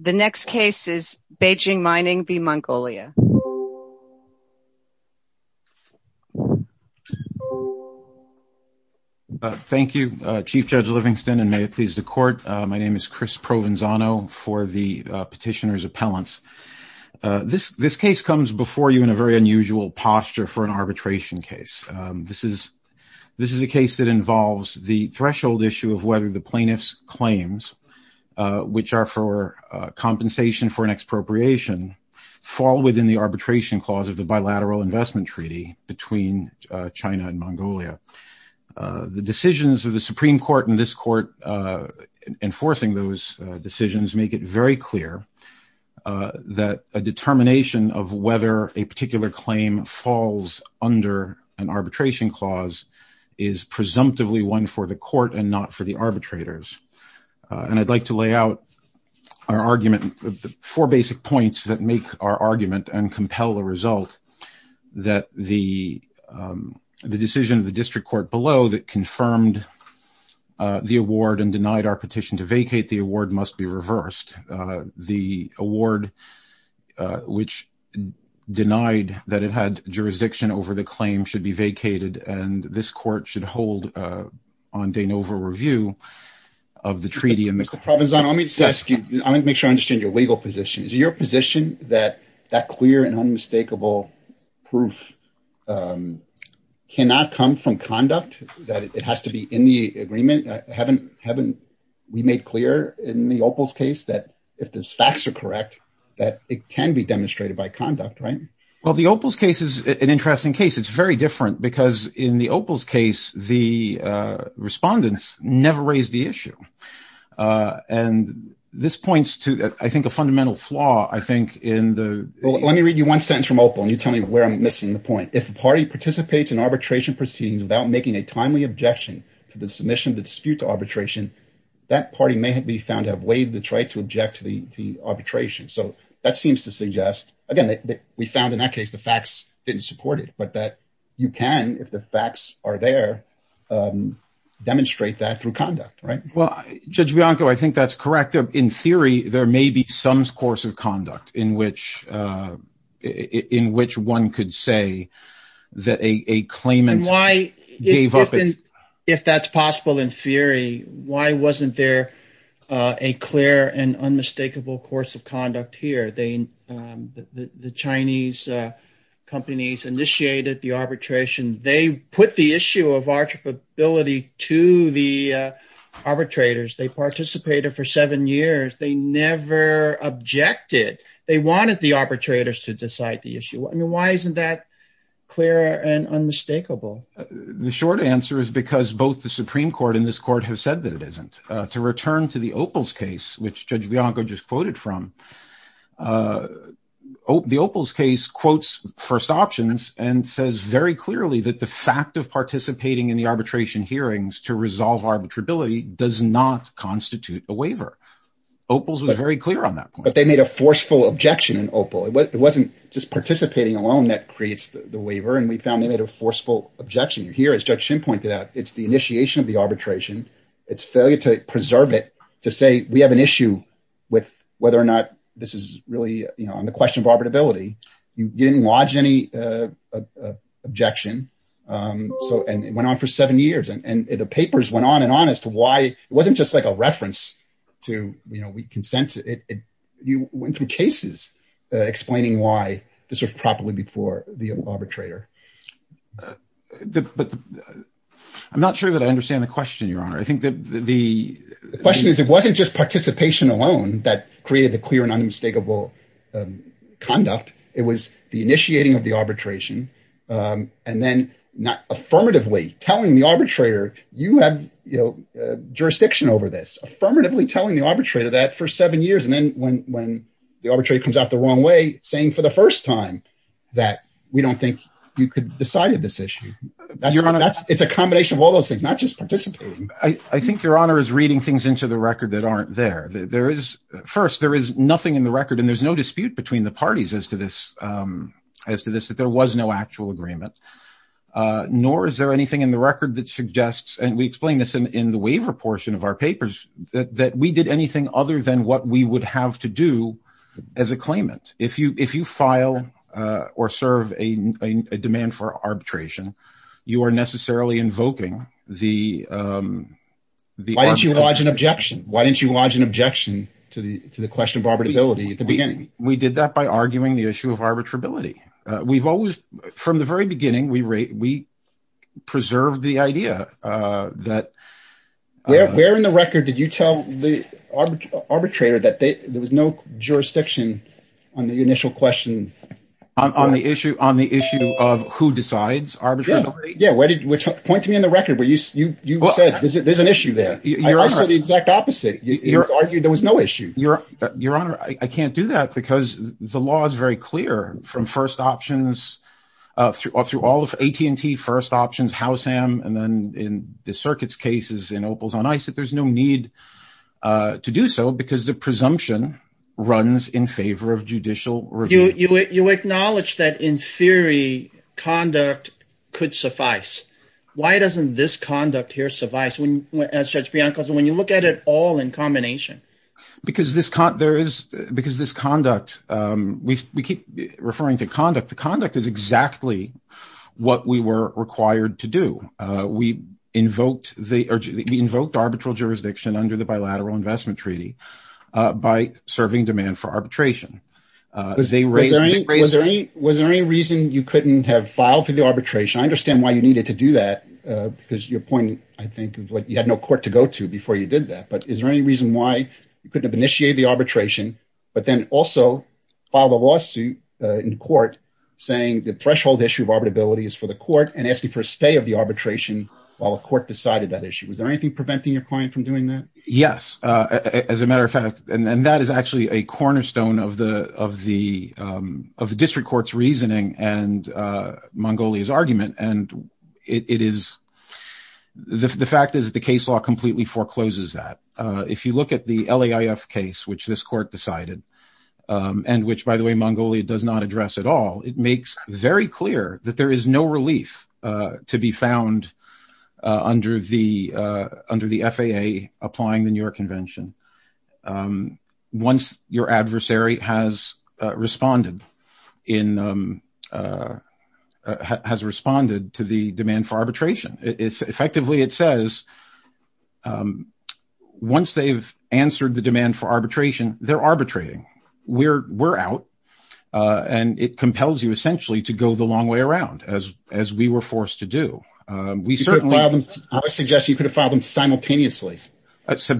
The next case is Beijing Mining v. Mongolia. Thank you, Chief Judge Livingston, and may it please the court. My name is Chris Provenzano for the petitioner's appellants. This case comes before you in a very unusual posture for an arbitration case. This is a case that involves the threshold issue of whether the plaintiff's claims which are for compensation for an expropriation fall within the arbitration clause of the bilateral investment treaty between China and Mongolia. The decisions of the Supreme Court in this court enforcing those decisions make it very clear that a determination of whether a particular claim falls under an arbitration clause is presumptively one for the court and not for the court. I'd like to lay out four basic points that make our argument and compel the result that the decision of the district court below that confirmed the award and denied our petition to vacate the award must be reversed. The award which denied that it had jurisdiction over the claim should be vacated and this court should hold on de novo review of the treaty. Mr. Provenzano, let me just ask you, I want to make sure I understand your legal position. Is your position that that clear and unmistakable proof cannot come from conduct? That it has to be in the agreement? Haven't we made clear in the Opal's case that if the facts are correct that it can be demonstrated by conduct, right? Well, the Opal's the respondents never raised the issue and this points to, I think, a fundamental flaw. Let me read you one sentence from Opal and you tell me where I'm missing the point. If a party participates in arbitration proceedings without making a timely objection to the submission of the dispute to arbitration, that party may be found to have waived the right to object to the arbitration. So, that seems to suggest, again, that we found in that case the facts didn't support it, but that you can, if the facts are there, demonstrate that through conduct, right? Well, Judge Bianco, I think that's correct. In theory, there may be some course of conduct in which one could say that a claimant gave up. If that's possible in theory, why wasn't there a clear and unmistakable course of conduct here? The Chinese companies initiated the arbitration. They put the issue of arbitrability to the arbitrators. They participated for seven years. They never objected. They wanted the arbitrators to decide the issue. I mean, why isn't that clear and unmistakable? The short answer is because both the Supreme Court and this Opal's case, which Judge Bianco just quoted from, the Opal's case quotes first options and says very clearly that the fact of participating in the arbitration hearings to resolve arbitrability does not constitute a waiver. Opal's was very clear on that point. But they made a forceful objection in Opal. It wasn't just participating alone that creates the waiver, and we found they made a forceful objection. Here, as Judge Shin pointed out, it's the initiation of the arbitration. It's failure to preserve it, to say we have an issue with whether or not this is really on the question of arbitrability. You didn't lodge any objection, and it went on for seven years, and the papers went on and on as to why it wasn't just like a reference to we consent. You went through cases explaining why this was properly before the arbitrator. I'm not sure that I think that the question is, it wasn't just participation alone that created the clear and unmistakable conduct. It was the initiating of the arbitration and then not affirmatively telling the arbitrator, you have jurisdiction over this, affirmatively telling the arbitrator that for seven years, and then when the arbitrator comes out the wrong way, saying for the first time that we don't think you could decide this issue. It's a combination of all those things, not just participating. I think Your Honor is reading things into the record that aren't there. First, there is nothing in the record, and there's no dispute between the parties as to this, that there was no actual agreement, nor is there anything in the record that suggests, and we explained this in the waiver portion of our papers, that we did anything other than what we would have to do as a claimant. If you file or serve a demand for arbitration, you are necessarily invoking the- Why didn't you lodge an objection? Why didn't you lodge an objection to the question of arbitrability at the beginning? We did that by arguing the issue of arbitrability. From the very beginning, we preserved the idea that- Where in the record did you tell the arbitrator that there was no jurisdiction on the initial question? On the issue of who decides arbitrability? Yeah. Point to me in the record where you said there's an issue there. I saw the exact opposite. You argued there was no issue. Your Honor, I can't do that because the law is very clear from first options, through all of AT&T first options, Howsam, and then in the circuit's cases in Opal's on ICE, that there's no need to do so because the presumption runs in favor of judicial review. You acknowledge that in theory, conduct could suffice. Why doesn't this conduct here suffice, as Judge Bianco said, when you look at it all in combination? Because this conduct, we keep referring to conduct. The conduct is exactly what we were required to do. We invoked arbitral jurisdiction under the Bilateral Investment Treaty by serving demand for arbitration. Was there any reason you couldn't have filed for the arbitration? I understand why you needed to do that because your point, I think, of what you had no court to go to before you did that. But is there any reason why you couldn't have initiated the arbitration, but then also filed a lawsuit in court saying the threshold issue of arbitrability is for the court and asking for a stay of the arbitration while the court decided that issue? Was there anything preventing your client from doing that? Yes. As a matter of fact, and that is actually a cornerstone of the District Court's reasoning and Mongolia's argument. The fact is the case law completely forecloses that. If you look at the LAIF case, which this court decided, and which, by the way, Mongolia does not address at all, it makes very clear that there is no relief to be found under the FAA applying the New York Convention once your adversary has responded to the demand for arbitration. Effectively, it says once they've answered the demand for arbitration, they're arbitrating. We're out. And it compels to go the long way around, as we were forced to do. I would suggest you could have filed them simultaneously. The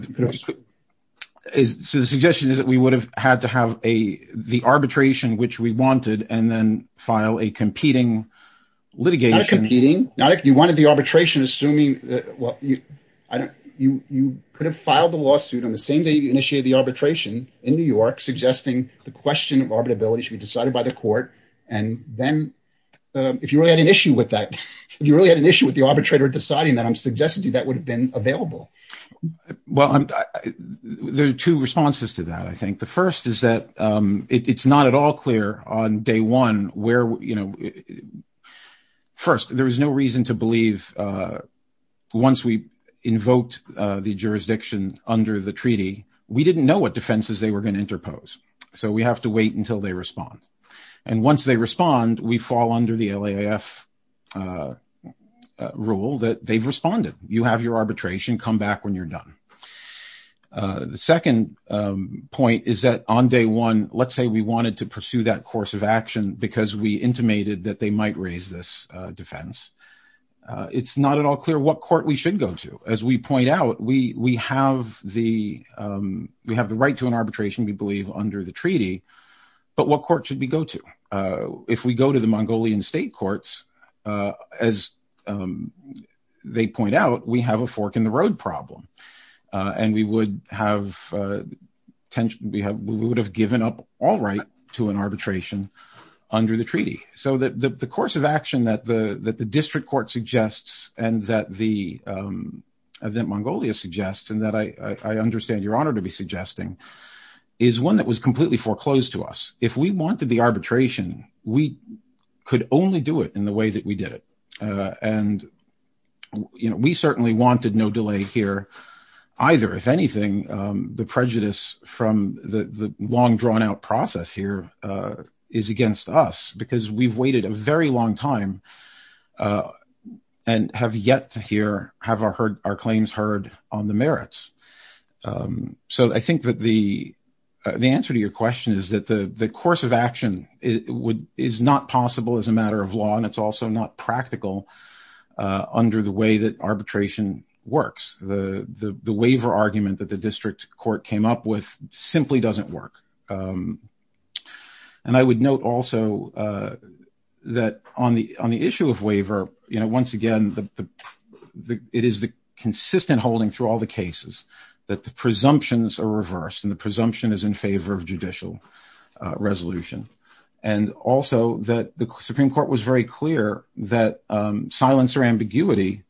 suggestion is that we would have had to have the arbitration, which we wanted, and then file a competing litigation. Not competing. You wanted the arbitration assuming that you could have filed the lawsuit on the same day you initiated the arbitration in New York, suggesting the question of arbitrability should be decided by the court and then, if you really had an issue with that, if you really had an issue with the arbitrator deciding that, I'm suggesting to you that would have been available. Well, there are two responses to that, I think. The first is that it's not at all clear on day one where, you know, first, there is no reason to believe once we invoked the jurisdiction under the treaty, we didn't know what to do. Once they respond, we fall under the LAIF rule that they've responded. You have your arbitration. Come back when you're done. The second point is that on day one, let's say we wanted to pursue that course of action because we intimated that they might raise this defense. It's not at all clear what court we should go to. As we point out, we have the right to an if we go to the Mongolian state courts, as they point out, we have a fork in the road problem and we would have given up all right to an arbitration under the treaty. So, the course of action that the district court suggests and that Mongolia suggests and that I understand your honor to be suggesting is one that was completely foreclosed to us. If we wanted the we could only do it in the way that we did it and, you know, we certainly wanted no delay here either. If anything, the prejudice from the long drawn out process here is against us because we've waited a very long time and have yet to hear have our heard our claims heard on the merits. So, I think that the answer to your question is that the course of action is not possible as a matter of law and it's also not practical under the way that arbitration works. The waiver argument that the district court came up with simply doesn't work. And I would note also that on the issue of waiver, you know, once again, the it is the consistent holding through all the cases that the presumptions are reversed and the presumption is in favor of judicial resolution and also that the supreme court was very clear that silence or ambiguity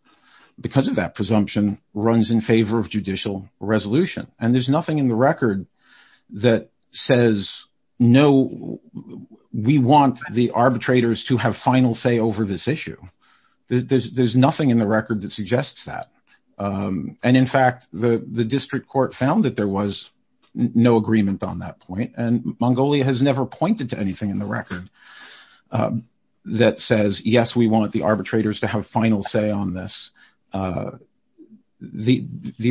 because of that presumption runs in favor of judicial resolution and there's nothing in the record that says no we want the arbitrators to have final say over this issue. There's nothing in the record that suggests that. And in fact, the district court found that there was no agreement on that point and Mongolia has never pointed to anything in the record that says yes we want the arbitrators to have final say on this. The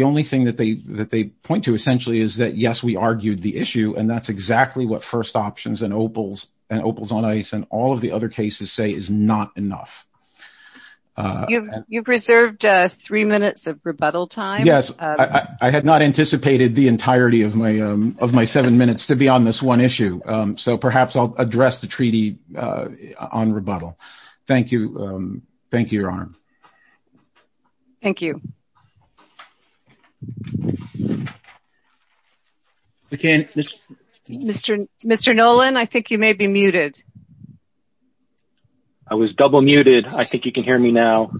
only thing that they that they point to essentially is that yes we argued the issue and that's exactly what first options and opals and opals on ice and all of the other cases say is not enough. You've reserved three minutes of rebuttal time. Yes, I had not anticipated the entirety of my of my seven minutes to be on this one issue. So perhaps I'll address the treaty on rebuttal. Thank you. Thank you, your honor. Thank you. Okay, Mr. Mr. Nolan, I think you may be muted. I was double muted. I think you can hear me now.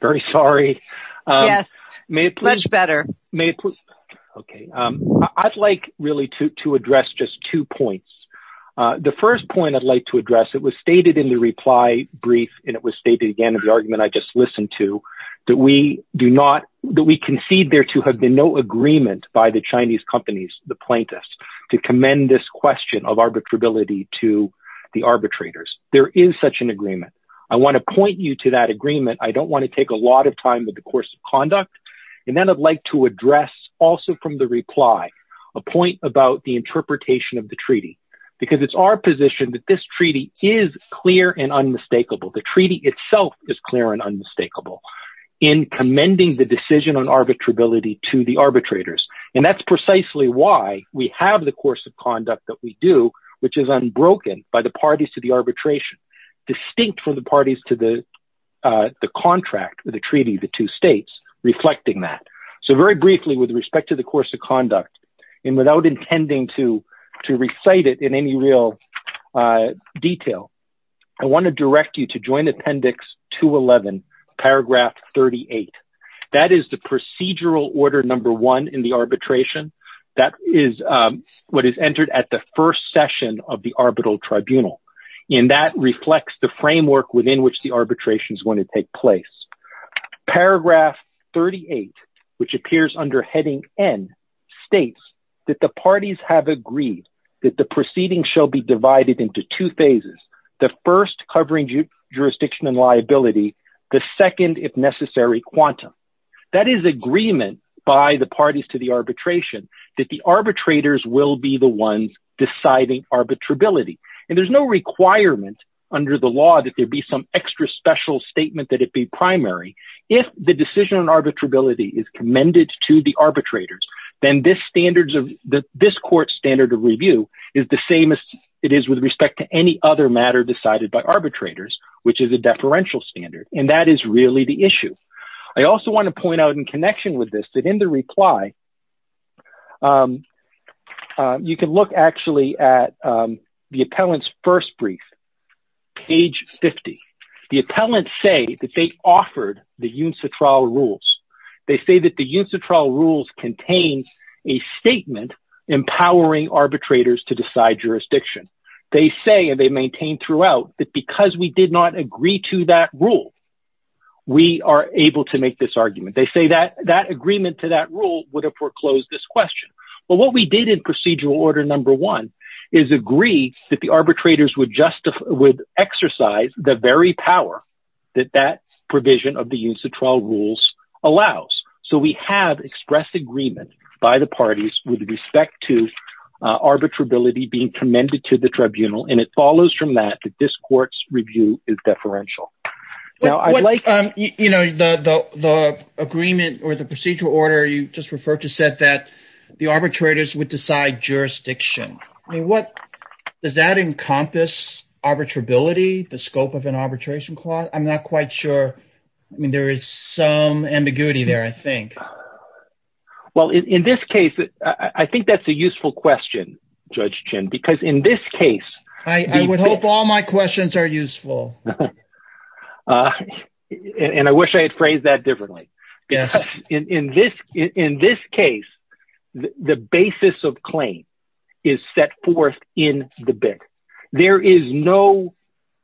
Very sorry. Yes, maybe much better. Maybe. Okay. I'd like really to address just two points. The first point I'd like to address it was stated in the reply brief, and it was stated again in the argument I just listened to, that we do not that we concede there to have been no agreement by the Chinese companies, the plaintiffs to commend this question of arbitrability to the arbitrators. There is such an agreement. I want to point you to that agreement. I don't want to take a lot of time with the course of conduct. And then I'd like to address also from the reply, a point about the interpretation of the treaty, because it's our position that this treaty is clear and unmistakable. The treaty itself is clear and unmistakable in commending the decision on arbitrability to the arbitrators. And that's precisely why we have the course of conduct that we do, which is unbroken by the parties to the arbitration, distinct from the parties to the contract with the treaty, the two states reflecting that. So very briefly, with respect to the course of conduct, and without intending to recite it in any real detail, I want to direct you to Joint Appendix 211, Paragraph 38. That is the procedural order number one in the arbitration. That is what is entered at the first session of the Arbital Tribunal. And that reflects the framework within which the arbitration is going to take place. Paragraph 38, which appears under heading N, states that the parties have agreed that the proceeding shall be divided into two phases, the first covering jurisdiction and liability, the second, if necessary, quantum. That is agreement by the parties to the arbitration, that the arbitrators will be the ones deciding arbitrability. And there's no requirement under the law that there be some extra special statement that it be primary. If the decision on arbitrability is commended to the arbitrators, then this court standard of review is the same as it is with respect to any other matter decided by arbitrators, which is a deferential standard. And that is really the issue. I also want to point out in connection with this, that in the reply, you can look actually at the appellant's first brief, page 50. The appellants say that they offered the UNSA trial rules. They say that the UNSA trial rules contain a statement empowering arbitrators to decide jurisdiction. They say, and they maintain throughout, that because we did not agree to that rule, we are able to make this argument. They say that that agreement to that rule would have foreclosed this question. But what we did in that provision of the UNSA trial rules allows. So we have expressed agreement by the parties with respect to arbitrability being commended to the tribunal. And it follows from that, that this court's review is deferential. Now, I'd like... You know, the agreement or the procedural order you just referred to said that the arbitrators would decide jurisdiction. I mean, does that encompass arbitrability, the scope of an arbitration clause? I'm not quite sure. I mean, there is some ambiguity there, I think. Well, in this case, I think that's a useful question, Judge Chin, because in this case... I would hope all my questions are useful. And I wish I had phrased that differently. In this case, the basis of claim is set forth in the bit. There is no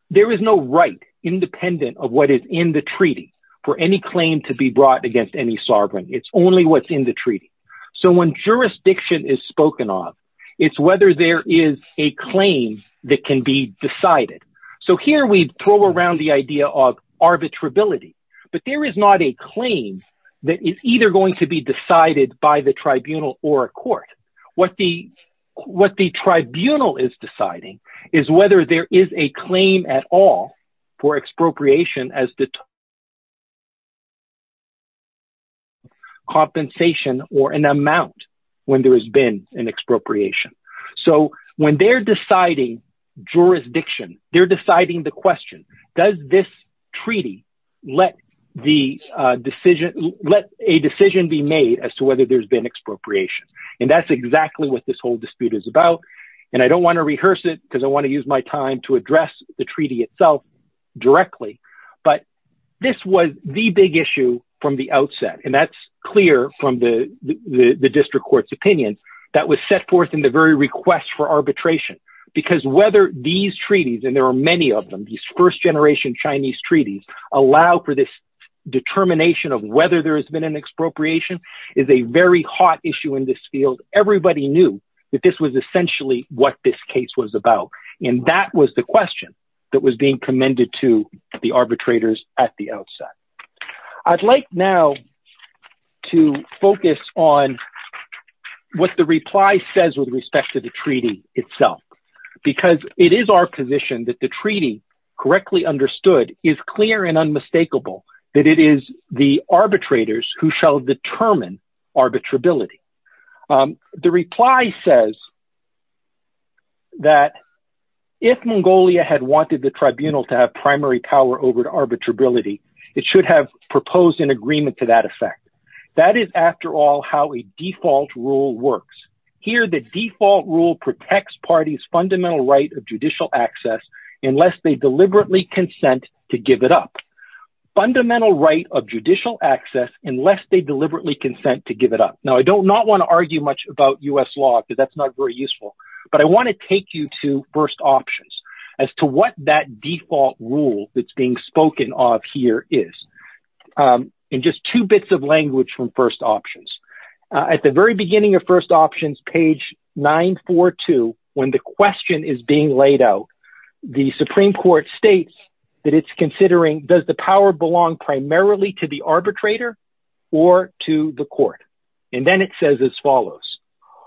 right independent of what is in the treaty for any claim to be brought against any sovereign. It's only what's in the treaty. So when jurisdiction is spoken of, it's whether there is a claim that can be decided. So here we throw around the idea of arbitrability. But there is not a claim that is either going to be decided by the tribunal or a court. What the tribunal is deciding is whether there is a claim at all for expropriation as the compensation or an amount when there has been an expropriation. So when they're deciding jurisdiction, they're deciding the question, does this treaty let a decision be made as to whether there's been expropriation? And that's exactly what this whole dispute is about. And I don't want to rehearse it because I want to use my time to address the treaty itself directly. But this was the big issue from the outset. And that's clear from the district court's opinion that was set forth in the very request for arbitration, because whether these treaties, and there are many of them, these first generation Chinese treaties allow for this hot issue in this field. Everybody knew that this was essentially what this case was about. And that was the question that was being commended to the arbitrators at the outset. I'd like now to focus on what the reply says with respect to the treaty itself, because it is our position that the treaty correctly understood is clear and unmistakable that it is the arbitrators who shall determine arbitrability. The reply says that if Mongolia had wanted the tribunal to have primary power over arbitrability, it should have proposed an agreement to that effect. That is, after all, how a default rule works. Here, the default rule protects parties' fundamental right of judicial access unless they deliberately consent to give it up. Now, I don't not want to argue much about US law, because that's not very useful. But I want to take you to First Options, as to what that default rule that's being spoken of here is. In just two bits of language from First Options. At the very beginning of First Options, page 942, when the question is being laid out, the Supreme Court states that it's considering, does the power belong to the Supreme Court primarily to the arbitrator, or to the court? And then it says as follows.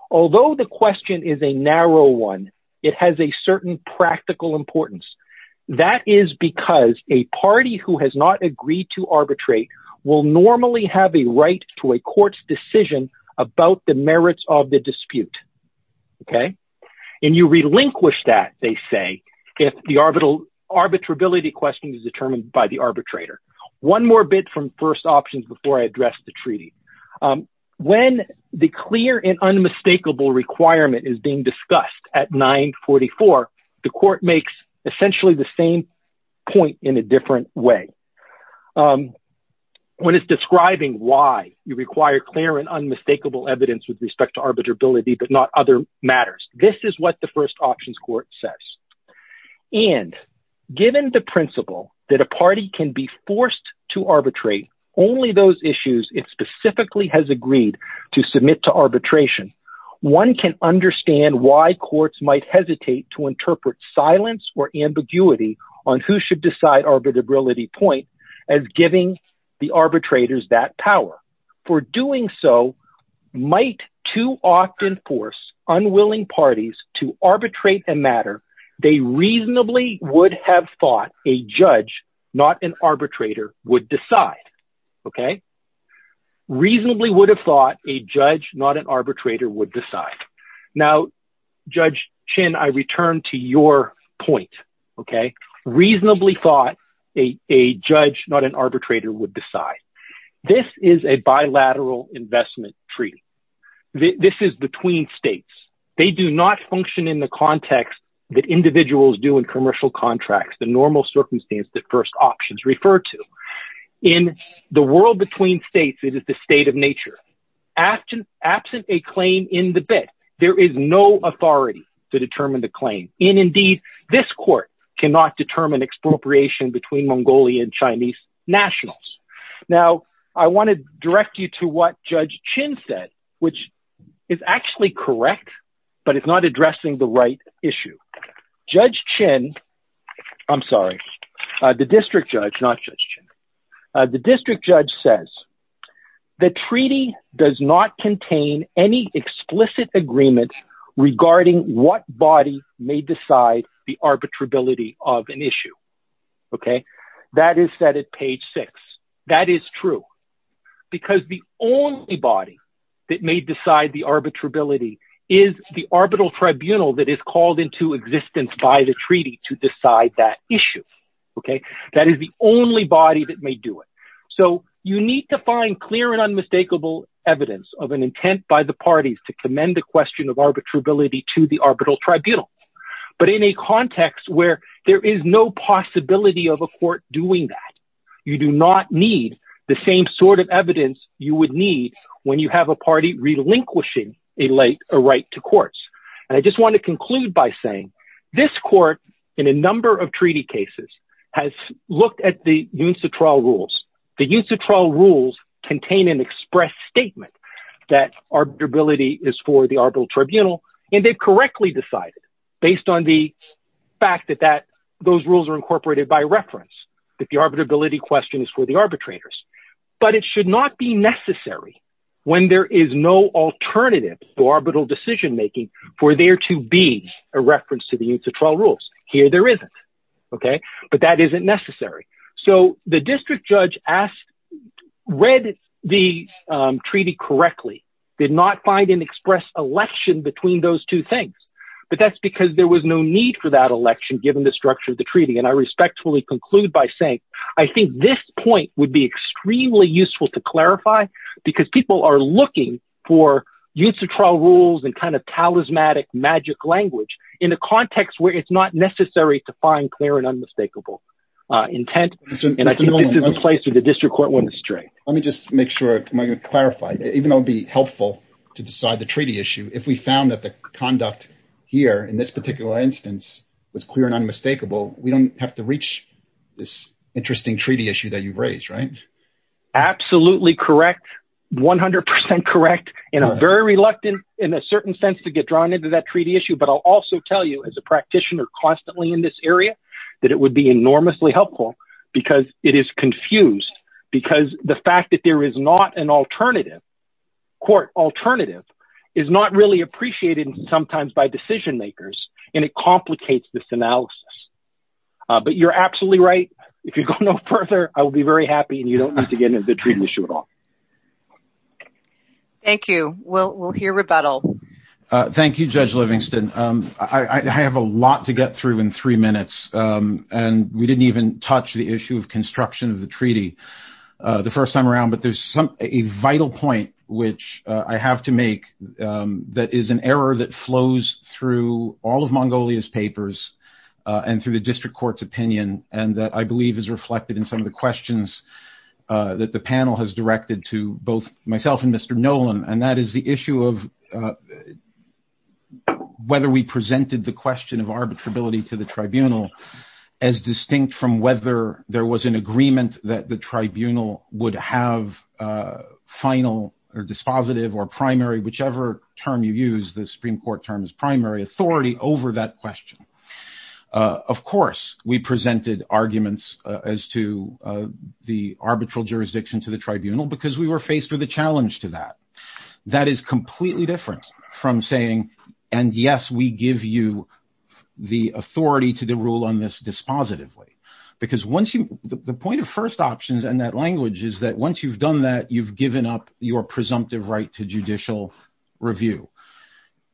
Although the question is a narrow one, it has a certain practical importance. That is because a party who has not agreed to arbitrate will normally have a right to a court's decision about the merits of the dispute. Okay? And you relinquish that, they say, if the arbitrability question is one more bit from First Options before I address the treaty. When the clear and unmistakable requirement is being discussed at 944, the court makes essentially the same point in a different way. When it's describing why you require clear and unmistakable evidence with respect to arbitrability, but not other matters. This is what the First Options Court says. And given the principle that a party can be forced to arbitrate only those issues it specifically has agreed to submit to arbitration, one can understand why courts might hesitate to interpret silence or ambiguity on who should decide arbitrability point as giving the arbitrators that for doing so might too often force unwilling parties to arbitrate a matter they reasonably would have thought a judge, not an arbitrator would decide. Okay? Reasonably would have thought a judge, not an arbitrator would decide. Now, Judge Chin, I return to your point. Okay? Reasonably thought a judge, not an arbitrator would decide. This is a bilateral investment treaty. This is between states. They do not function in the context that individuals do in commercial contracts, the normal circumstance that First Options refer to. In the world between states, it is the state of nature. Absent a claim in the bid, there is no authority to determine the claim. And indeed, this court cannot determine expropriation between Mongolia and Chinese nationals. Now, I want to direct you to what Judge Chin said, which is actually correct, but it's not addressing the right issue. Judge Chin, I'm sorry, the district judge, not Judge Chin. The district judge says, the treaty does not contain any explicit agreements regarding what body may decide the arbitrability of an issue. Okay? That is set at page six. That is true. Because the only body that may decide the arbitrability is the arbitral tribunal that is called into existence by the treaty to decide that issue. Okay? That is the only body that may do it. So you need to find clear and unmistakable evidence of an intent by the parties to commend the question of arbitrability to the arbitral tribunal. But in a context where there is no possibility of a court doing that, you do not need the same sort of evidence you would need when you have a party relinquishing a right to courts. And I just want to conclude by saying, this court, in a number of treaty cases, has looked at the UNCTRA rules. The UNCTRA rules contain an express statement that arbitrability is for the arbitral tribunal, and they've correctly decided, based on the fact that those rules are incorporated by reference, that the arbitrability question is for the arbitrators. But it should not be necessary when there is no alternative to arbitral decision-making for there to be a reference to the UNCTRA rules. Here there isn't. Okay? But that isn't necessary. So the district judge read the treaty correctly, did not find an express election between those two things. But that's because there was no need for that election given the structure of the treaty. And I respectfully conclude by saying, I think this point would be extremely useful to clarify, because people are looking for UNCTRA rules and kind of find clear and unmistakable intent. And I think this is a place where the district court went straight. Let me just make sure I'm going to clarify, even though it'd be helpful to decide the treaty issue, if we found that the conduct here, in this particular instance, was clear and unmistakable, we don't have to reach this interesting treaty issue that you've raised, right? Absolutely correct. 100% correct. And I'm very reluctant, in a certain sense, to get drawn into that treaty issue. But I'll also tell you, as a practitioner constantly in this area, that it would be enormously helpful, because it is confused. Because the fact that there is not an alternative, court alternative, is not really appreciated sometimes by decision makers. And it complicates this analysis. But you're absolutely right. If you go no further, I will be very happy. And you don't I have a lot to get through in three minutes. And we didn't even touch the issue of construction of the treaty the first time around. But there's a vital point, which I have to make, that is an error that flows through all of Mongolia's papers, and through the district court's opinion, and that I believe is reflected in some of the questions that the panel has directed to both myself and whether we presented the question of arbitrability to the tribunal, as distinct from whether there was an agreement that the tribunal would have final or dispositive or primary, whichever term you use, the Supreme Court term is primary authority over that question. Of course, we presented arguments as to the arbitral jurisdiction to the tribunal, because we were faced with a challenge to that. That is completely different from saying, and yes, we give you the authority to the rule on this dispositively. Because once you the point of first options and that language is that once you've done that you've given up your presumptive right to judicial review.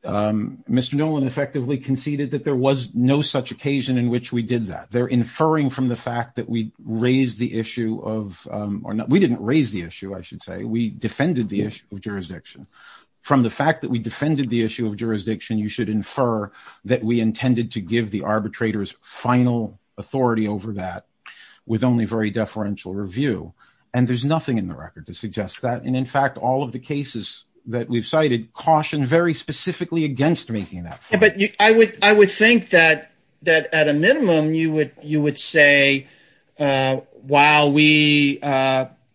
Mr. Nolan effectively conceded that there was no such occasion in which we did that. They're inferring from the fact that we raised the issue of or not we didn't raise the we defended the issue of jurisdiction. From the fact that we defended the issue of jurisdiction, you should infer that we intended to give the arbitrators final authority over that, with only very deferential review. And there's nothing in the record to suggest that. And in fact, all of the cases that we've cited caution very specifically against making that. But I would think that at a minimum, you would say, while we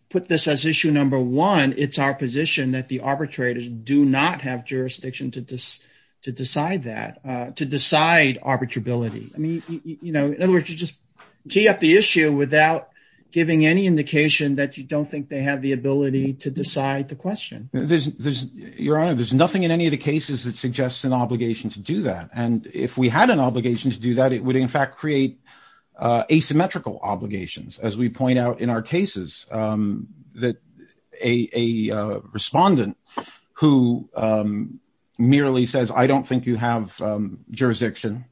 put this as issue number one, it's our position that the arbitrators do not have jurisdiction to decide that, to decide arbitrability. I mean, you know, in other words, you just tee up the issue without giving any indication that you don't think they have the ability to decide the question. There's your honor, there's nothing in any of the cases that suggests an obligation to do that. And if we had an obligation to do that, it would in fact create asymmetrical obligations. As we point out in our cases, that a respondent who merely says, I don't think you have jurisdiction.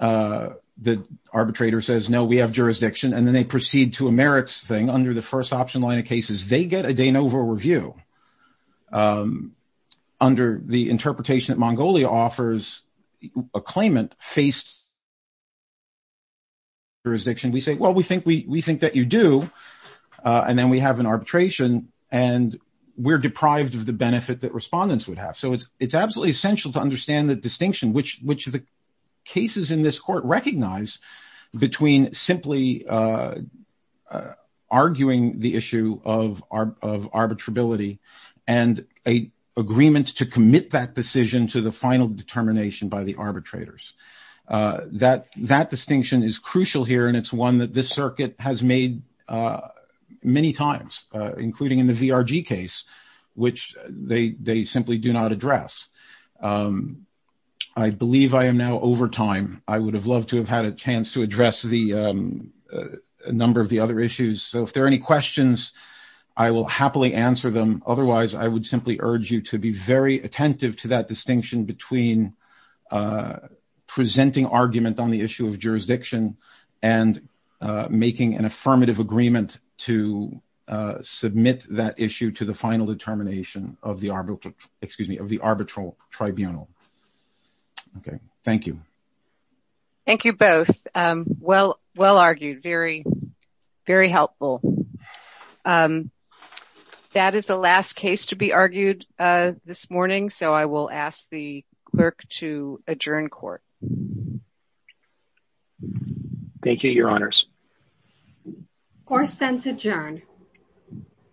The arbitrator says, no, we have jurisdiction. And then they proceed to a merits thing under the first option line of cases, they get a Danova review. Under the interpretation that Mongolia offers a claimant face jurisdiction, we say, well, we think that you do. And then we have an arbitration. And we're deprived of the benefit that respondents would have. So it's absolutely essential to understand the distinction which the cases in this court recognize between simply arguing the issue of arbitrability, and a agreement to commit that decision to the final determination by the arbitrators. That distinction is crucial here. And it's one that this circuit has made many times, including in the VRG case, which they simply do not address. I believe I am now over time, I would have loved to have had a chance to address the number of the other issues. So if there are any questions, I will happily answer them. Otherwise, I would simply urge you to be very attentive to that distinction between presenting argument on the issue of jurisdiction, and making an affirmative agreement to submit that issue to the final determination of the arbitral tribunal. Okay, thank you. Thank you both. Well, well argued, very, very helpful. That is the last case to be argued this morning. So I will ask the clerk to adjourn court. Thank you, Your Honors. Court is adjourned.